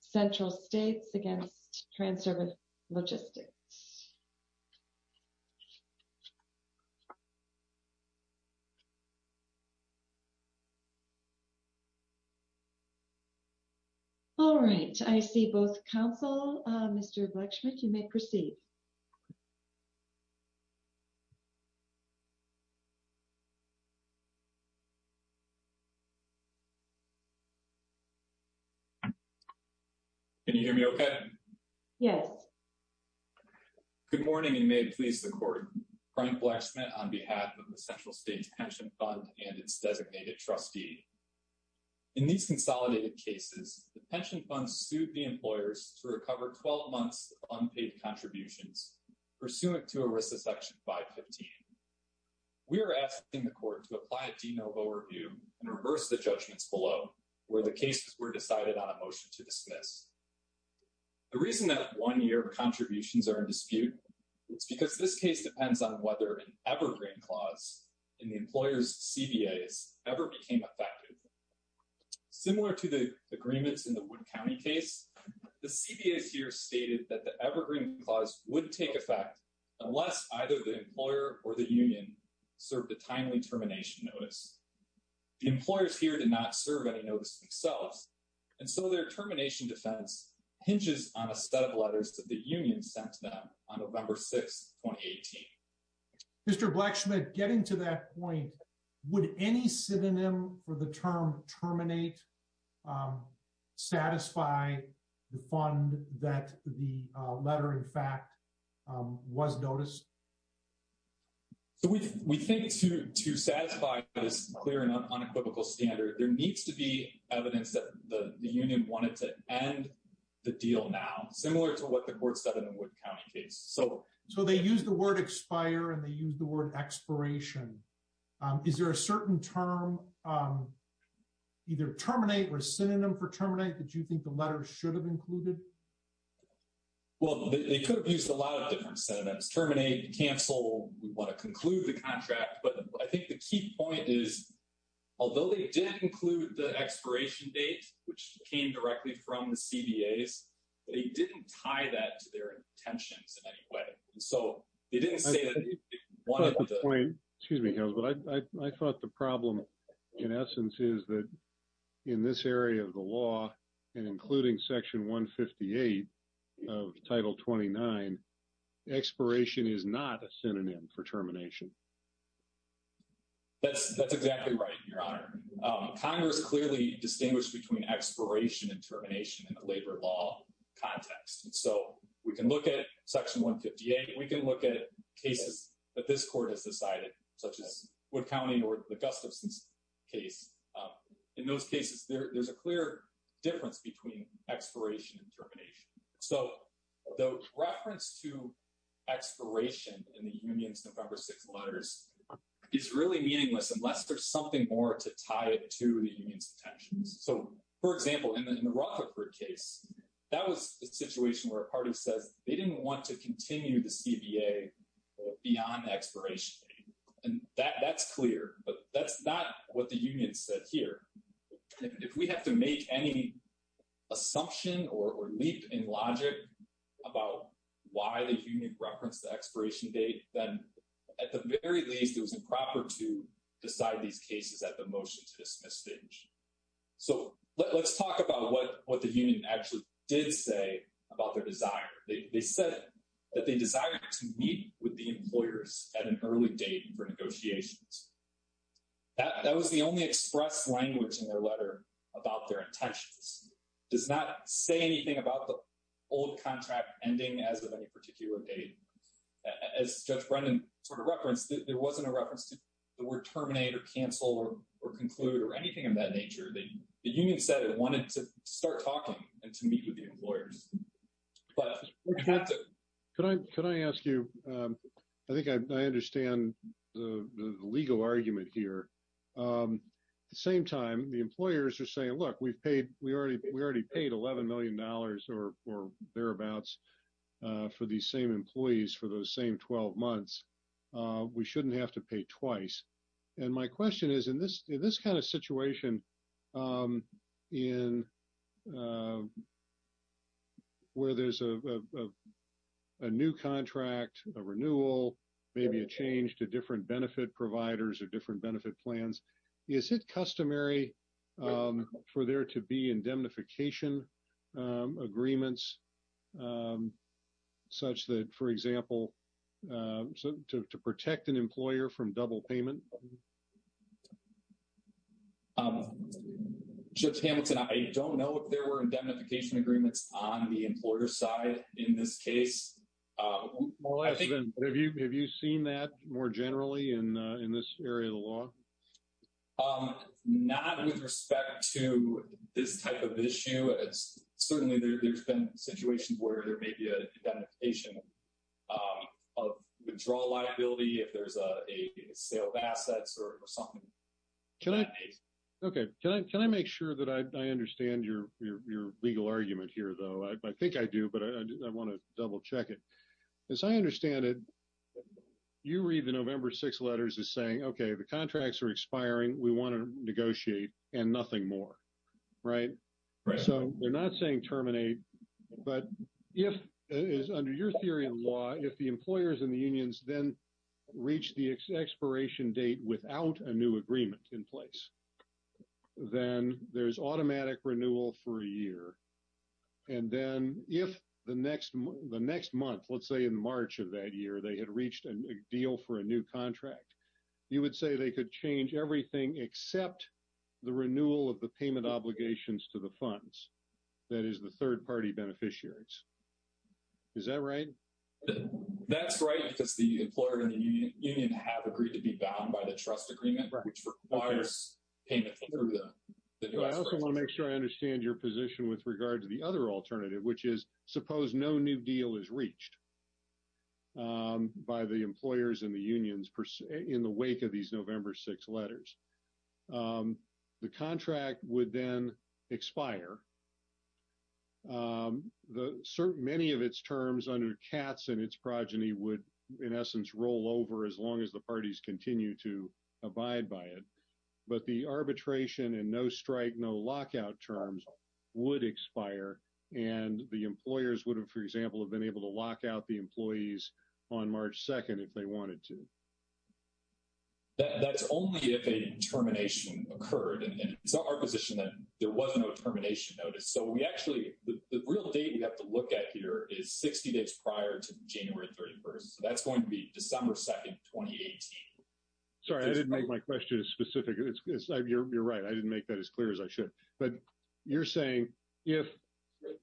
Central States Against Transervice Logistics Can you hear me okay? Yes. Good morning and may it please the court. Brian Blacksmith on behalf of the Central States Pension Fund and its designated trustee. In these consolidated cases, the pension fund sued the employers to recover 12 months of unpaid contributions pursuant to ERISA Section 515. We are asking the court to apply a de novo review and reverse the judgments below where the cases were decided on a motion to dismiss. The reason that one year of contributions are in dispute is because this case depends on whether an evergreen clause in the employer's CBAs ever became effective. Similar to the agreements in the Wood County case, the CBAs here stated that the evergreen clause wouldn't take effect unless either the employer or the union served a timely termination notice. The employers here did not serve any notice themselves, and so their termination defense hinges on a set of letters that the union sent them on November 6, 2018. Mr. Blacksmith, getting to that point, would any synonym for the term terminate satisfy the fund that the letter, in fact, was noticed? We think to satisfy this clear and unequivocal standard, there needs to be evidence that the union wanted to end the deal now, similar to what the court said in the Wood County case. So they used the word expire, and they used the word expiration. Is there a certain term, either terminate or synonym for terminate, that you think the letter should have included? Well, they could have used a lot of different synonyms, terminate, cancel. I think the key point is, although they did include the expiration date, which came directly from the CBAs, they didn't tie that to their intentions in any way. I thought the problem, in essence, is that in this area of the law, and including Section 158 of Title 29, expiration is not a synonym for termination. That's exactly right, Your Honor. Congress clearly distinguished between expiration and termination in the labor law context. So we can look at Section 158. We can look at cases that this court has decided, such as Wood County or the Gustafson case. In those cases, there's a clear difference between expiration and termination. So the reference to expiration in the union's November 6th letters is really meaningless unless there's something more to tie it to the union's intentions. So, for example, in the Rutherford case, that was a situation where a party says they didn't want to continue the CBA beyond expiration. And that's clear, but that's not what the union said here. If we have to make any assumption or leap in logic about why the union referenced the expiration date, then at the very least, it was improper to decide these cases at the motion to dismiss stage. So let's talk about what the union actually did say about their desire. They said that they desired to meet with the employers at an early date for negotiations. That was the only expressed language in their letter about their intentions. It does not say anything about the old contract ending as of any particular date. As Judge Brendan sort of referenced, there wasn't a reference to the word terminate or cancel or conclude or anything of that nature. The union said it wanted to start talking and to meet with the employers. Can I ask you? I think I understand the legal argument here. At the same time, the employers are saying, look, we've paid, we already paid $11 million or thereabouts for these same employees for those same 12 months. We shouldn't have to pay twice. And my question is, in this kind of situation where there's a new contract, a renewal, maybe a change to different benefit providers or different benefit plans, is it customary for there to be indemnification agreements such that, for example, to protect an employer from double payment? Judge Hamilton, I don't know if there were indemnification agreements on the employer side in this case. Have you seen that more generally in this area of the law? Not with respect to this type of issue. Certainly, there's been situations where there may be an indemnification of withdrawal liability if there's a sale of assets or something. Can I make sure that I understand your legal argument here, though? I think I do, but I want to double check it. As I understand it, you read the November 6 letters as saying, OK, the contracts are expiring. We want to negotiate and nothing more. Right? So we're not saying terminate, but if it is under your theory of law, if the employers and the unions then reach the expiration date without a new agreement in place, then there's automatic renewal for a year. And then if the next month, let's say in March of that year, they had reached a deal for a new contract, you would say they could change everything except the renewal of the payment obligations to the funds. That is the third party beneficiaries. Is that right? That's right, because the employer and the union have agreed to be bound by the trust agreement, which requires payment through the U.S. With regard to the other alternative, which is suppose no new deal is reached by the employers and the unions in the wake of these November 6 letters. The contract would then expire. Many of its terms under Katz and its progeny would, in essence, roll over as long as the parties continue to abide by it. But the arbitration and no strike, no lockout terms would expire. And the employers would have, for example, have been able to lock out the employees on March 2nd if they wanted to. That's only if a termination occurred. And it's not our position that there was no termination notice. So we actually, the real date we have to look at here is 60 days prior to January 31st. So that's going to be December 2nd, 2018. Sorry, I didn't make my question specific. You're right. I didn't make that as clear as I should. But you're saying if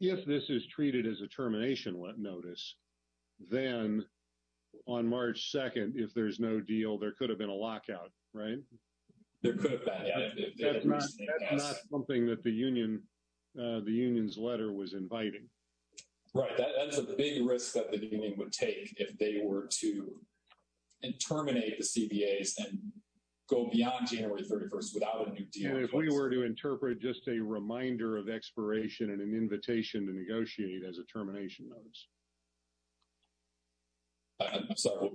this is treated as a termination notice, then on March 2nd, if there's no deal, there could have been a lockout, right? There could have been. That's not something that the union's letter was inviting. Right. That's a big risk that the union would take if they were to terminate the CBAs and go beyond January 31st without a new deal. And if we were to interpret just a reminder of expiration and an invitation to negotiate as a termination notice. I'm sorry.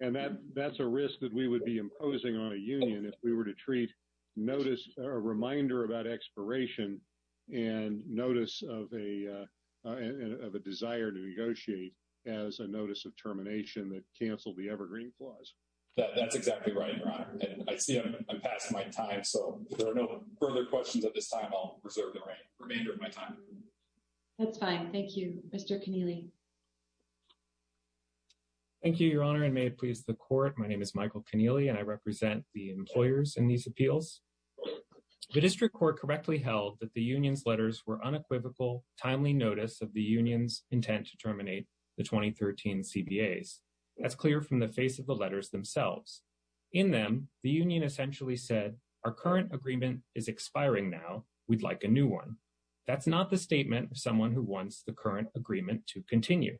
And that's a risk that we would be imposing on a union if we were to treat notice or a reminder about expiration and notice of a desire to negotiate as a notice of termination that canceled the Evergreen Clause. I see I'm passing my time, so if there are no further questions at this time, I'll reserve the remainder of my time. That's fine. Thank you, Mr. Keneally. Thank you, Your Honor, and may it please the court. My name is Michael Keneally, and I represent the employers in these appeals. The district court correctly held that the union's letters were unequivocal timely notice of the union's intent to terminate the 2013 CBAs. That's clear from the face of the letters themselves. In them, the union essentially said our current agreement is expiring now. We'd like a new one. That's not the statement of someone who wants the current agreement to continue.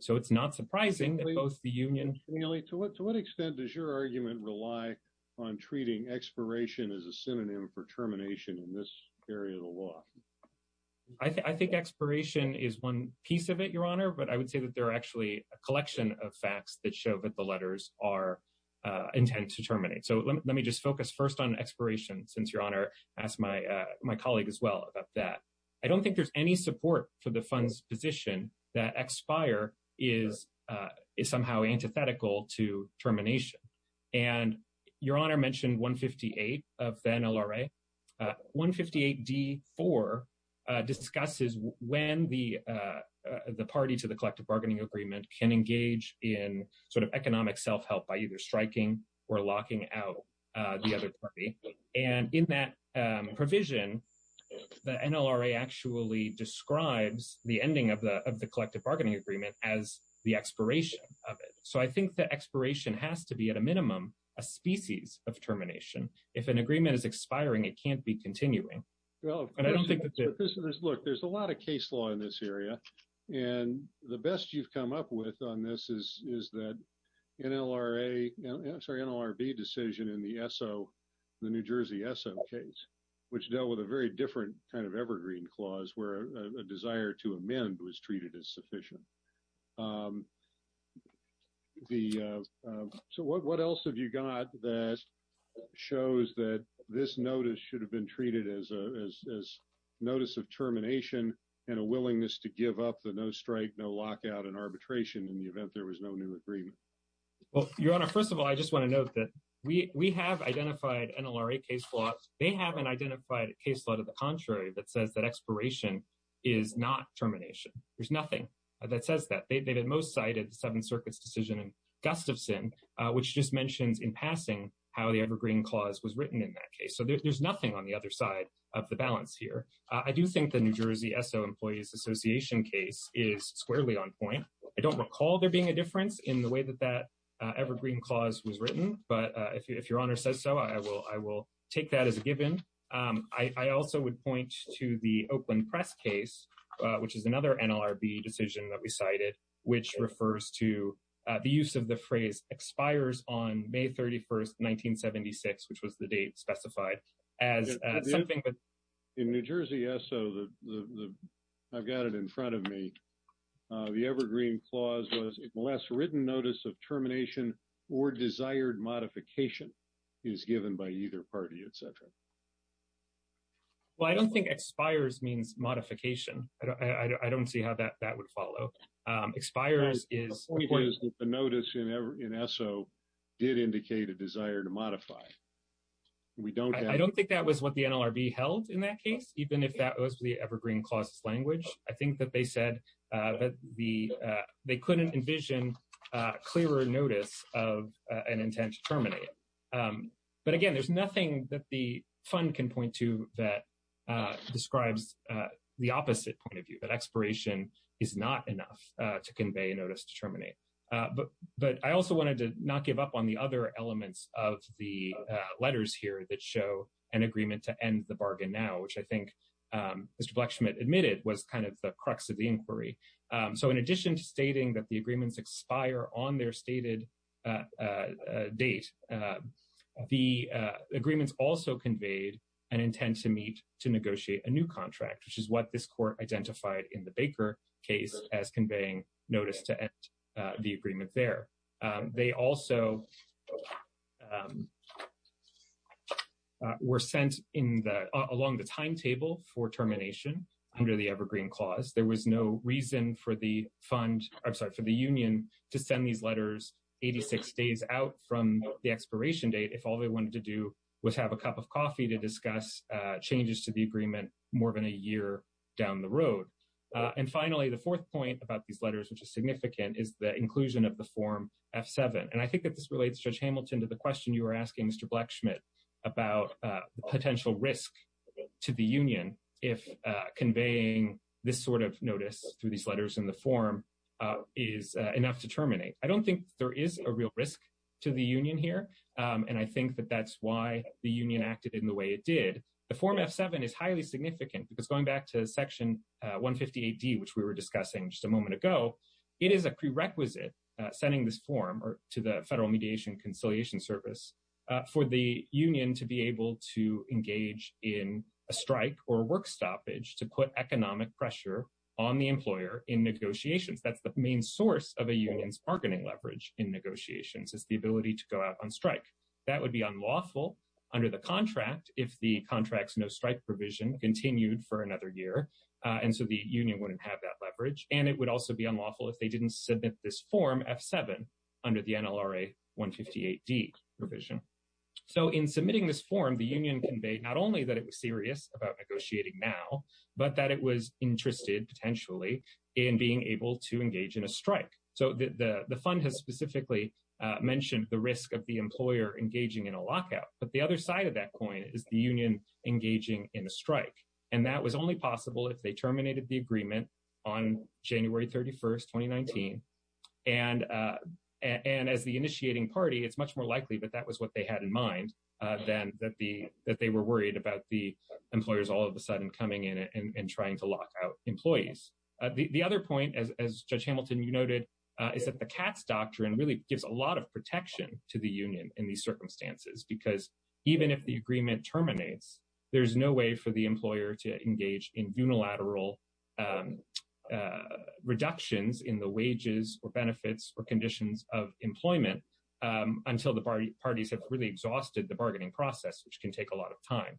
So it's not surprising that both the union. To what extent does your argument rely on treating expiration as a synonym for termination in this area of the law? I think expiration is one piece of it, Your Honor, but I would say that there are actually a collection of facts that show that the letters are intended to terminate. So let me just focus first on expiration, since Your Honor asked my my colleague as well about that. I don't think there's any support for the funds position that expire is is somehow antithetical to termination. And Your Honor mentioned 158 of the NLRA. 158 D4 discusses when the the party to the collective bargaining agreement can engage in sort of economic self-help by either striking or locking out the other party. And in that provision, the NLRA actually describes the ending of the of the collective bargaining agreement as the expiration of it. So I think the expiration has to be at a minimum a species of termination. If an agreement is expiring, it can't be continuing. Well, I don't think there's a lot of case law in this area. And the best you've come up with on this is, is that NLRA, sorry, NLRB decision in the ESO, the New Jersey ESO case, which dealt with a very different kind of evergreen clause where a desire to amend was treated as sufficient. The so what else have you got that shows that this notice should have been treated as a notice of termination and a willingness to give up the no strike, no lockout and arbitration in the event there was no new agreement? Well, Your Honor, first of all, I just want to note that we have identified NLRA case laws. They haven't identified a case law to the contrary that says that expiration is not termination. There's nothing that says that they've been most cited the Seventh Circuit's decision in Gustafson, which just mentions in passing how the evergreen clause was written in that case. So there's nothing on the other side of the balance here. I do think the New Jersey ESO Employees Association case is squarely on point. I don't recall there being a difference in the way that that evergreen clause was written. But if Your Honor says so, I will I will take that as a given. I also would point to the Oakland press case, which is another NLRB decision that we cited, which refers to the use of the phrase expires on May 31st, 1976, which was the date specified as something. In New Jersey ESO, I've got it in front of me. The evergreen clause was less written notice of termination or desired modification is given by either party, etc. Well, I don't think expires means modification. I don't see how that would follow. Expires is the notice in ESO did indicate a desire to modify. We don't I don't think that was what the NLRB held in that case, even if that was the evergreen clause language. I think that they said that the they couldn't envision clearer notice of an intent to terminate. But again, there's nothing that the fund can point to that describes the opposite point of view, that expiration is not enough to convey notice to terminate. But I also wanted to not give up on the other elements of the letters here that show an agreement to end the bargain now, which I think Mr. Blechschmidt admitted was kind of the crux of the inquiry. So in addition to stating that the agreements expire on their stated date, the agreements also conveyed an intent to meet to negotiate a new contract, which is what this court identified in the Baker case as conveying notice to the agreement there. They also were sent in along the timetable for termination under the evergreen clause. There was no reason for the fund, I'm sorry, for the union to send these letters 86 days out from the expiration date if all they wanted to do was have a cup of coffee to discuss changes to the agreement more than a year down the road. And finally, the fourth point about these letters, which is significant, is the inclusion of the form F-7. And I think that this relates, Judge Hamilton, to the question you were asking Mr. Blechschmidt about the potential risk to the union if conveying this sort of notice through these letters in the form is enough to terminate. I don't think there is a real risk to the union here. And I think that that's why the union acted in the way it did. The form F-7 is highly significant because going back to Section 150 AD, which we were discussing just a moment ago, it is a prerequisite sending this form to the Federal Mediation and Conciliation Service for the union to be able to engage in a strike or work stoppage to put economic pressure on the employer in negotiations. That's the main source of a union's bargaining leverage in negotiations is the ability to go out on strike. That would be unlawful under the contract if the contract's no strike provision continued for another year. And so the union wouldn't have that leverage. And it would also be unlawful if they didn't submit this form F-7 under the NLRA 158D provision. So in submitting this form, the union conveyed not only that it was serious about negotiating now, but that it was interested potentially in being able to engage in a strike. So the fund has specifically mentioned the risk of the employer engaging in a lockout. But the other side of that coin is the union engaging in a strike. And that was only possible if they terminated the agreement on January 31st, 2019. And as the initiating party, it's much more likely that that was what they had in mind than that they were worried about the employers all of a sudden coming in and trying to lock out employees. The other point, as Judge Hamilton, you noted, is that the CATS doctrine really gives a lot of protection to the union in these circumstances. Because even if the agreement terminates, there's no way for the employer to engage in unilateral reductions in the wages or benefits or conditions of employment until the parties have really exhausted the bargaining process, which can take a lot of time.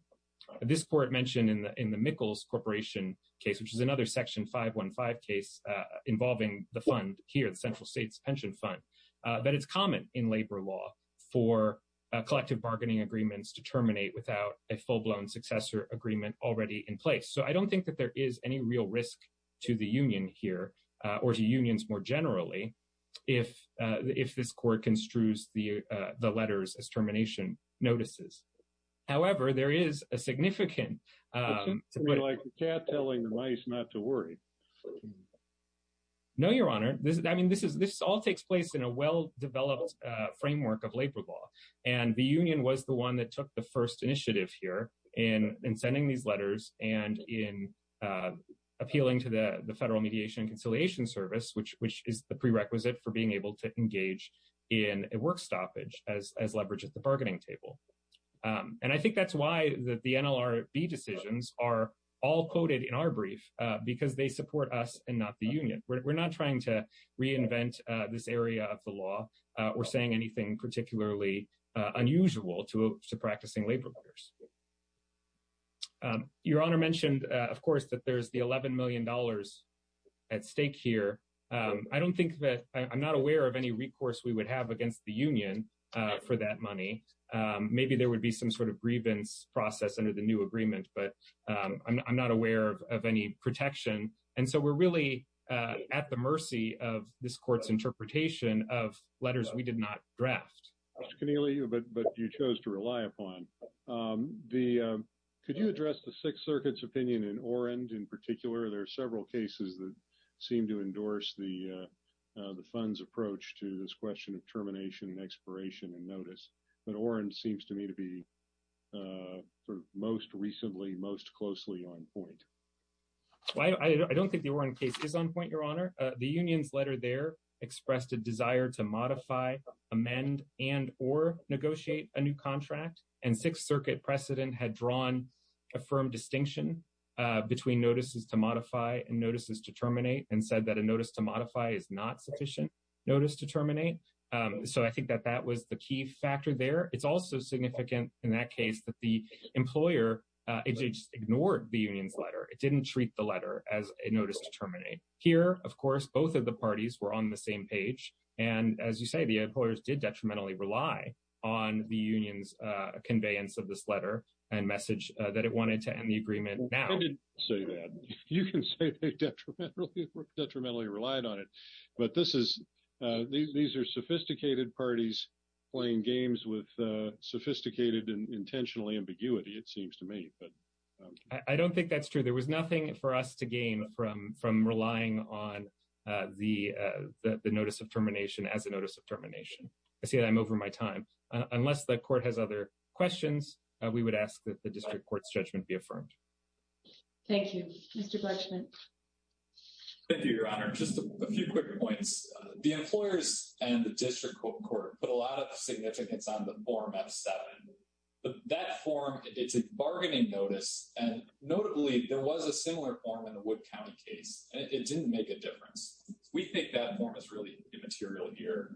This court mentioned in the Mickles Corporation case, which is another Section 515 case involving the fund here, the Central States Pension Fund, that it's common in labor law for collective bargaining agreements to terminate without a full-blown successor agreement already in place. So I don't think that there is any real risk to the union here or to unions more generally if this court construes the letters as termination notices. However, there is a significant... Like the cat telling the mice not to worry. No, Your Honor. I mean, this all takes place in a well-developed framework of labor law. And the union was the one that took the first initiative here in sending these letters and in appealing to the Federal Mediation and Conciliation Service, which is the prerequisite for being able to engage in a work stoppage as leveraged at the bargaining table. And I think that's why the NLRB decisions are all quoted in our brief, because they support us and not the union. We're not trying to reinvent this area of the law or saying anything particularly unusual to practicing labor lawyers. Your Honor mentioned, of course, that there's the $11 million at stake here. I don't think that I'm not aware of any recourse we would have against the union for that money. Maybe there would be some sort of grievance process under the new agreement, but I'm not aware of any protection. And so we're really at the mercy of this court's interpretation of letters we did not draft. Mr. Connealy, but you chose to rely upon. Could you address the Sixth Circuit's opinion in Orend in particular? There are several cases that seem to endorse the fund's approach to this question of termination and expiration and notice. But Orend seems to me to be most recently, most closely on point. I don't think the Orend case is on point, Your Honor. The union's letter there expressed a desire to modify, amend and or negotiate a new contract. And Sixth Circuit precedent had drawn a firm distinction between notices to modify and notices to terminate and said that a notice to modify is not sufficient notice to terminate. So I think that that was the key factor there. It's also significant in that case that the employer ignored the union's letter. It didn't treat the letter as a notice to terminate. Here, of course, both of the parties were on the same page. And as you say, the employers did detrimentally rely on the union's conveyance of this letter and message that it wanted to end the agreement. I didn't say that. You can say they detrimentally relied on it. But this is these are sophisticated parties playing games with sophisticated and intentional ambiguity, it seems to me. I don't think that's true. There was nothing for us to gain from from relying on the notice of termination as a notice of termination. I see that I'm over my time unless the court has other questions. We would ask that the district court's judgment be affirmed. Thank you, Mr. Bushman. Thank you, Your Honor. Just a few quick points. The employers and the district court put a lot of significance on the form of seven. But that form, it's a bargaining notice. And notably, there was a similar form in the Wood County case. It didn't make a difference. We think that form is really immaterial here.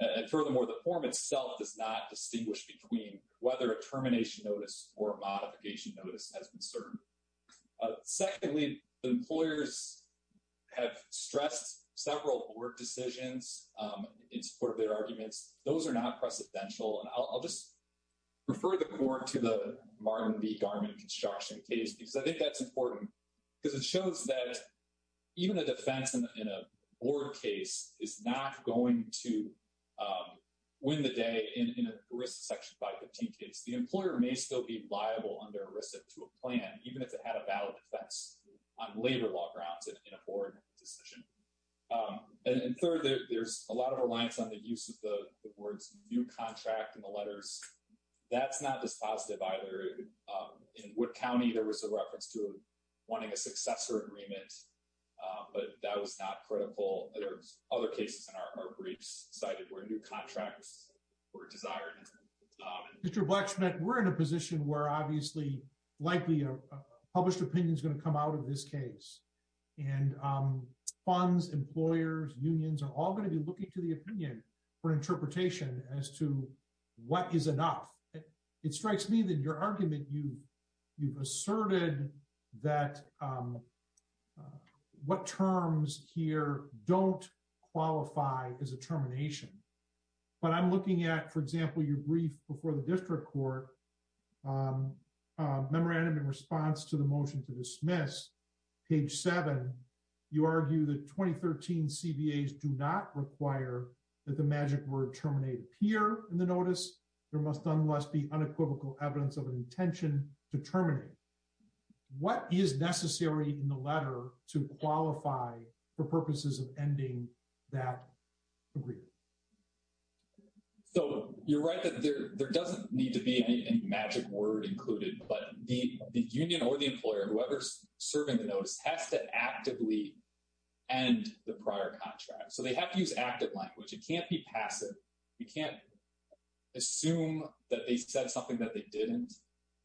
And furthermore, the form itself does not distinguish between whether a termination notice or modification notice has been served. Secondly, the employers have stressed several board decisions in support of their arguments. Those are not precedential. And I'll just refer the court to the Martin v. Garman construction case, because I think that's important because it shows that even a defense in a board case is not going to win the day in a risk section 515 case. The employer may still be liable under a risk to a plan, even if it had a valid defense on labor law grounds in a board decision. And third, there's a lot of reliance on the use of the words new contract in the letters. That's not dispositive either. In Wood County, there was a reference to wanting a successor agreement, but that was not critical. There's other cases in our briefs cited where new contracts were desired. Mr. Blacksmith, we're in a position where obviously likely a published opinion is going to come out of this case. And funds, employers, unions are all going to be looking to the opinion for interpretation as to what is enough. It strikes me that your argument you've asserted that what terms here don't qualify as a termination. But I'm looking at, for example, your brief before the district court memorandum in response to the motion to dismiss. Page seven, you argue that 2013 CBAs do not require that the magic word terminate appear in the notice. There must nonetheless be unequivocal evidence of an intention to terminate. What is necessary in the letter to qualify for purposes of ending that agreement? So you're right that there doesn't need to be any magic word included, but the union or the employer, whoever's serving the notice, has to actively end the prior contract. So they have to use active language. It can't be passive. You can't assume that they said something that they didn't.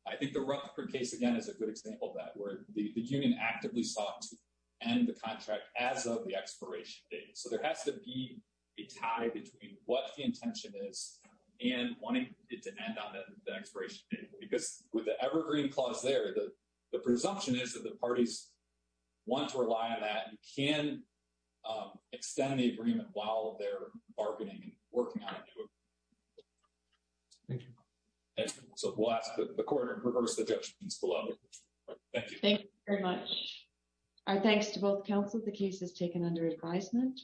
I think the Rutherford case, again, is a good example of that, where the union actively sought to end the contract as of the expiration date. So there has to be a tie between what the intention is and wanting it to end on the expiration date. Because with the evergreen clause there, the presumption is that the parties want to rely on that and can extend the agreement while they're bargaining and working on a new agreement. Thank you. So we'll ask the court to reverse the judgments below. Thank you. Thank you very much. Our thanks to both counsel. The case is taken under advisement.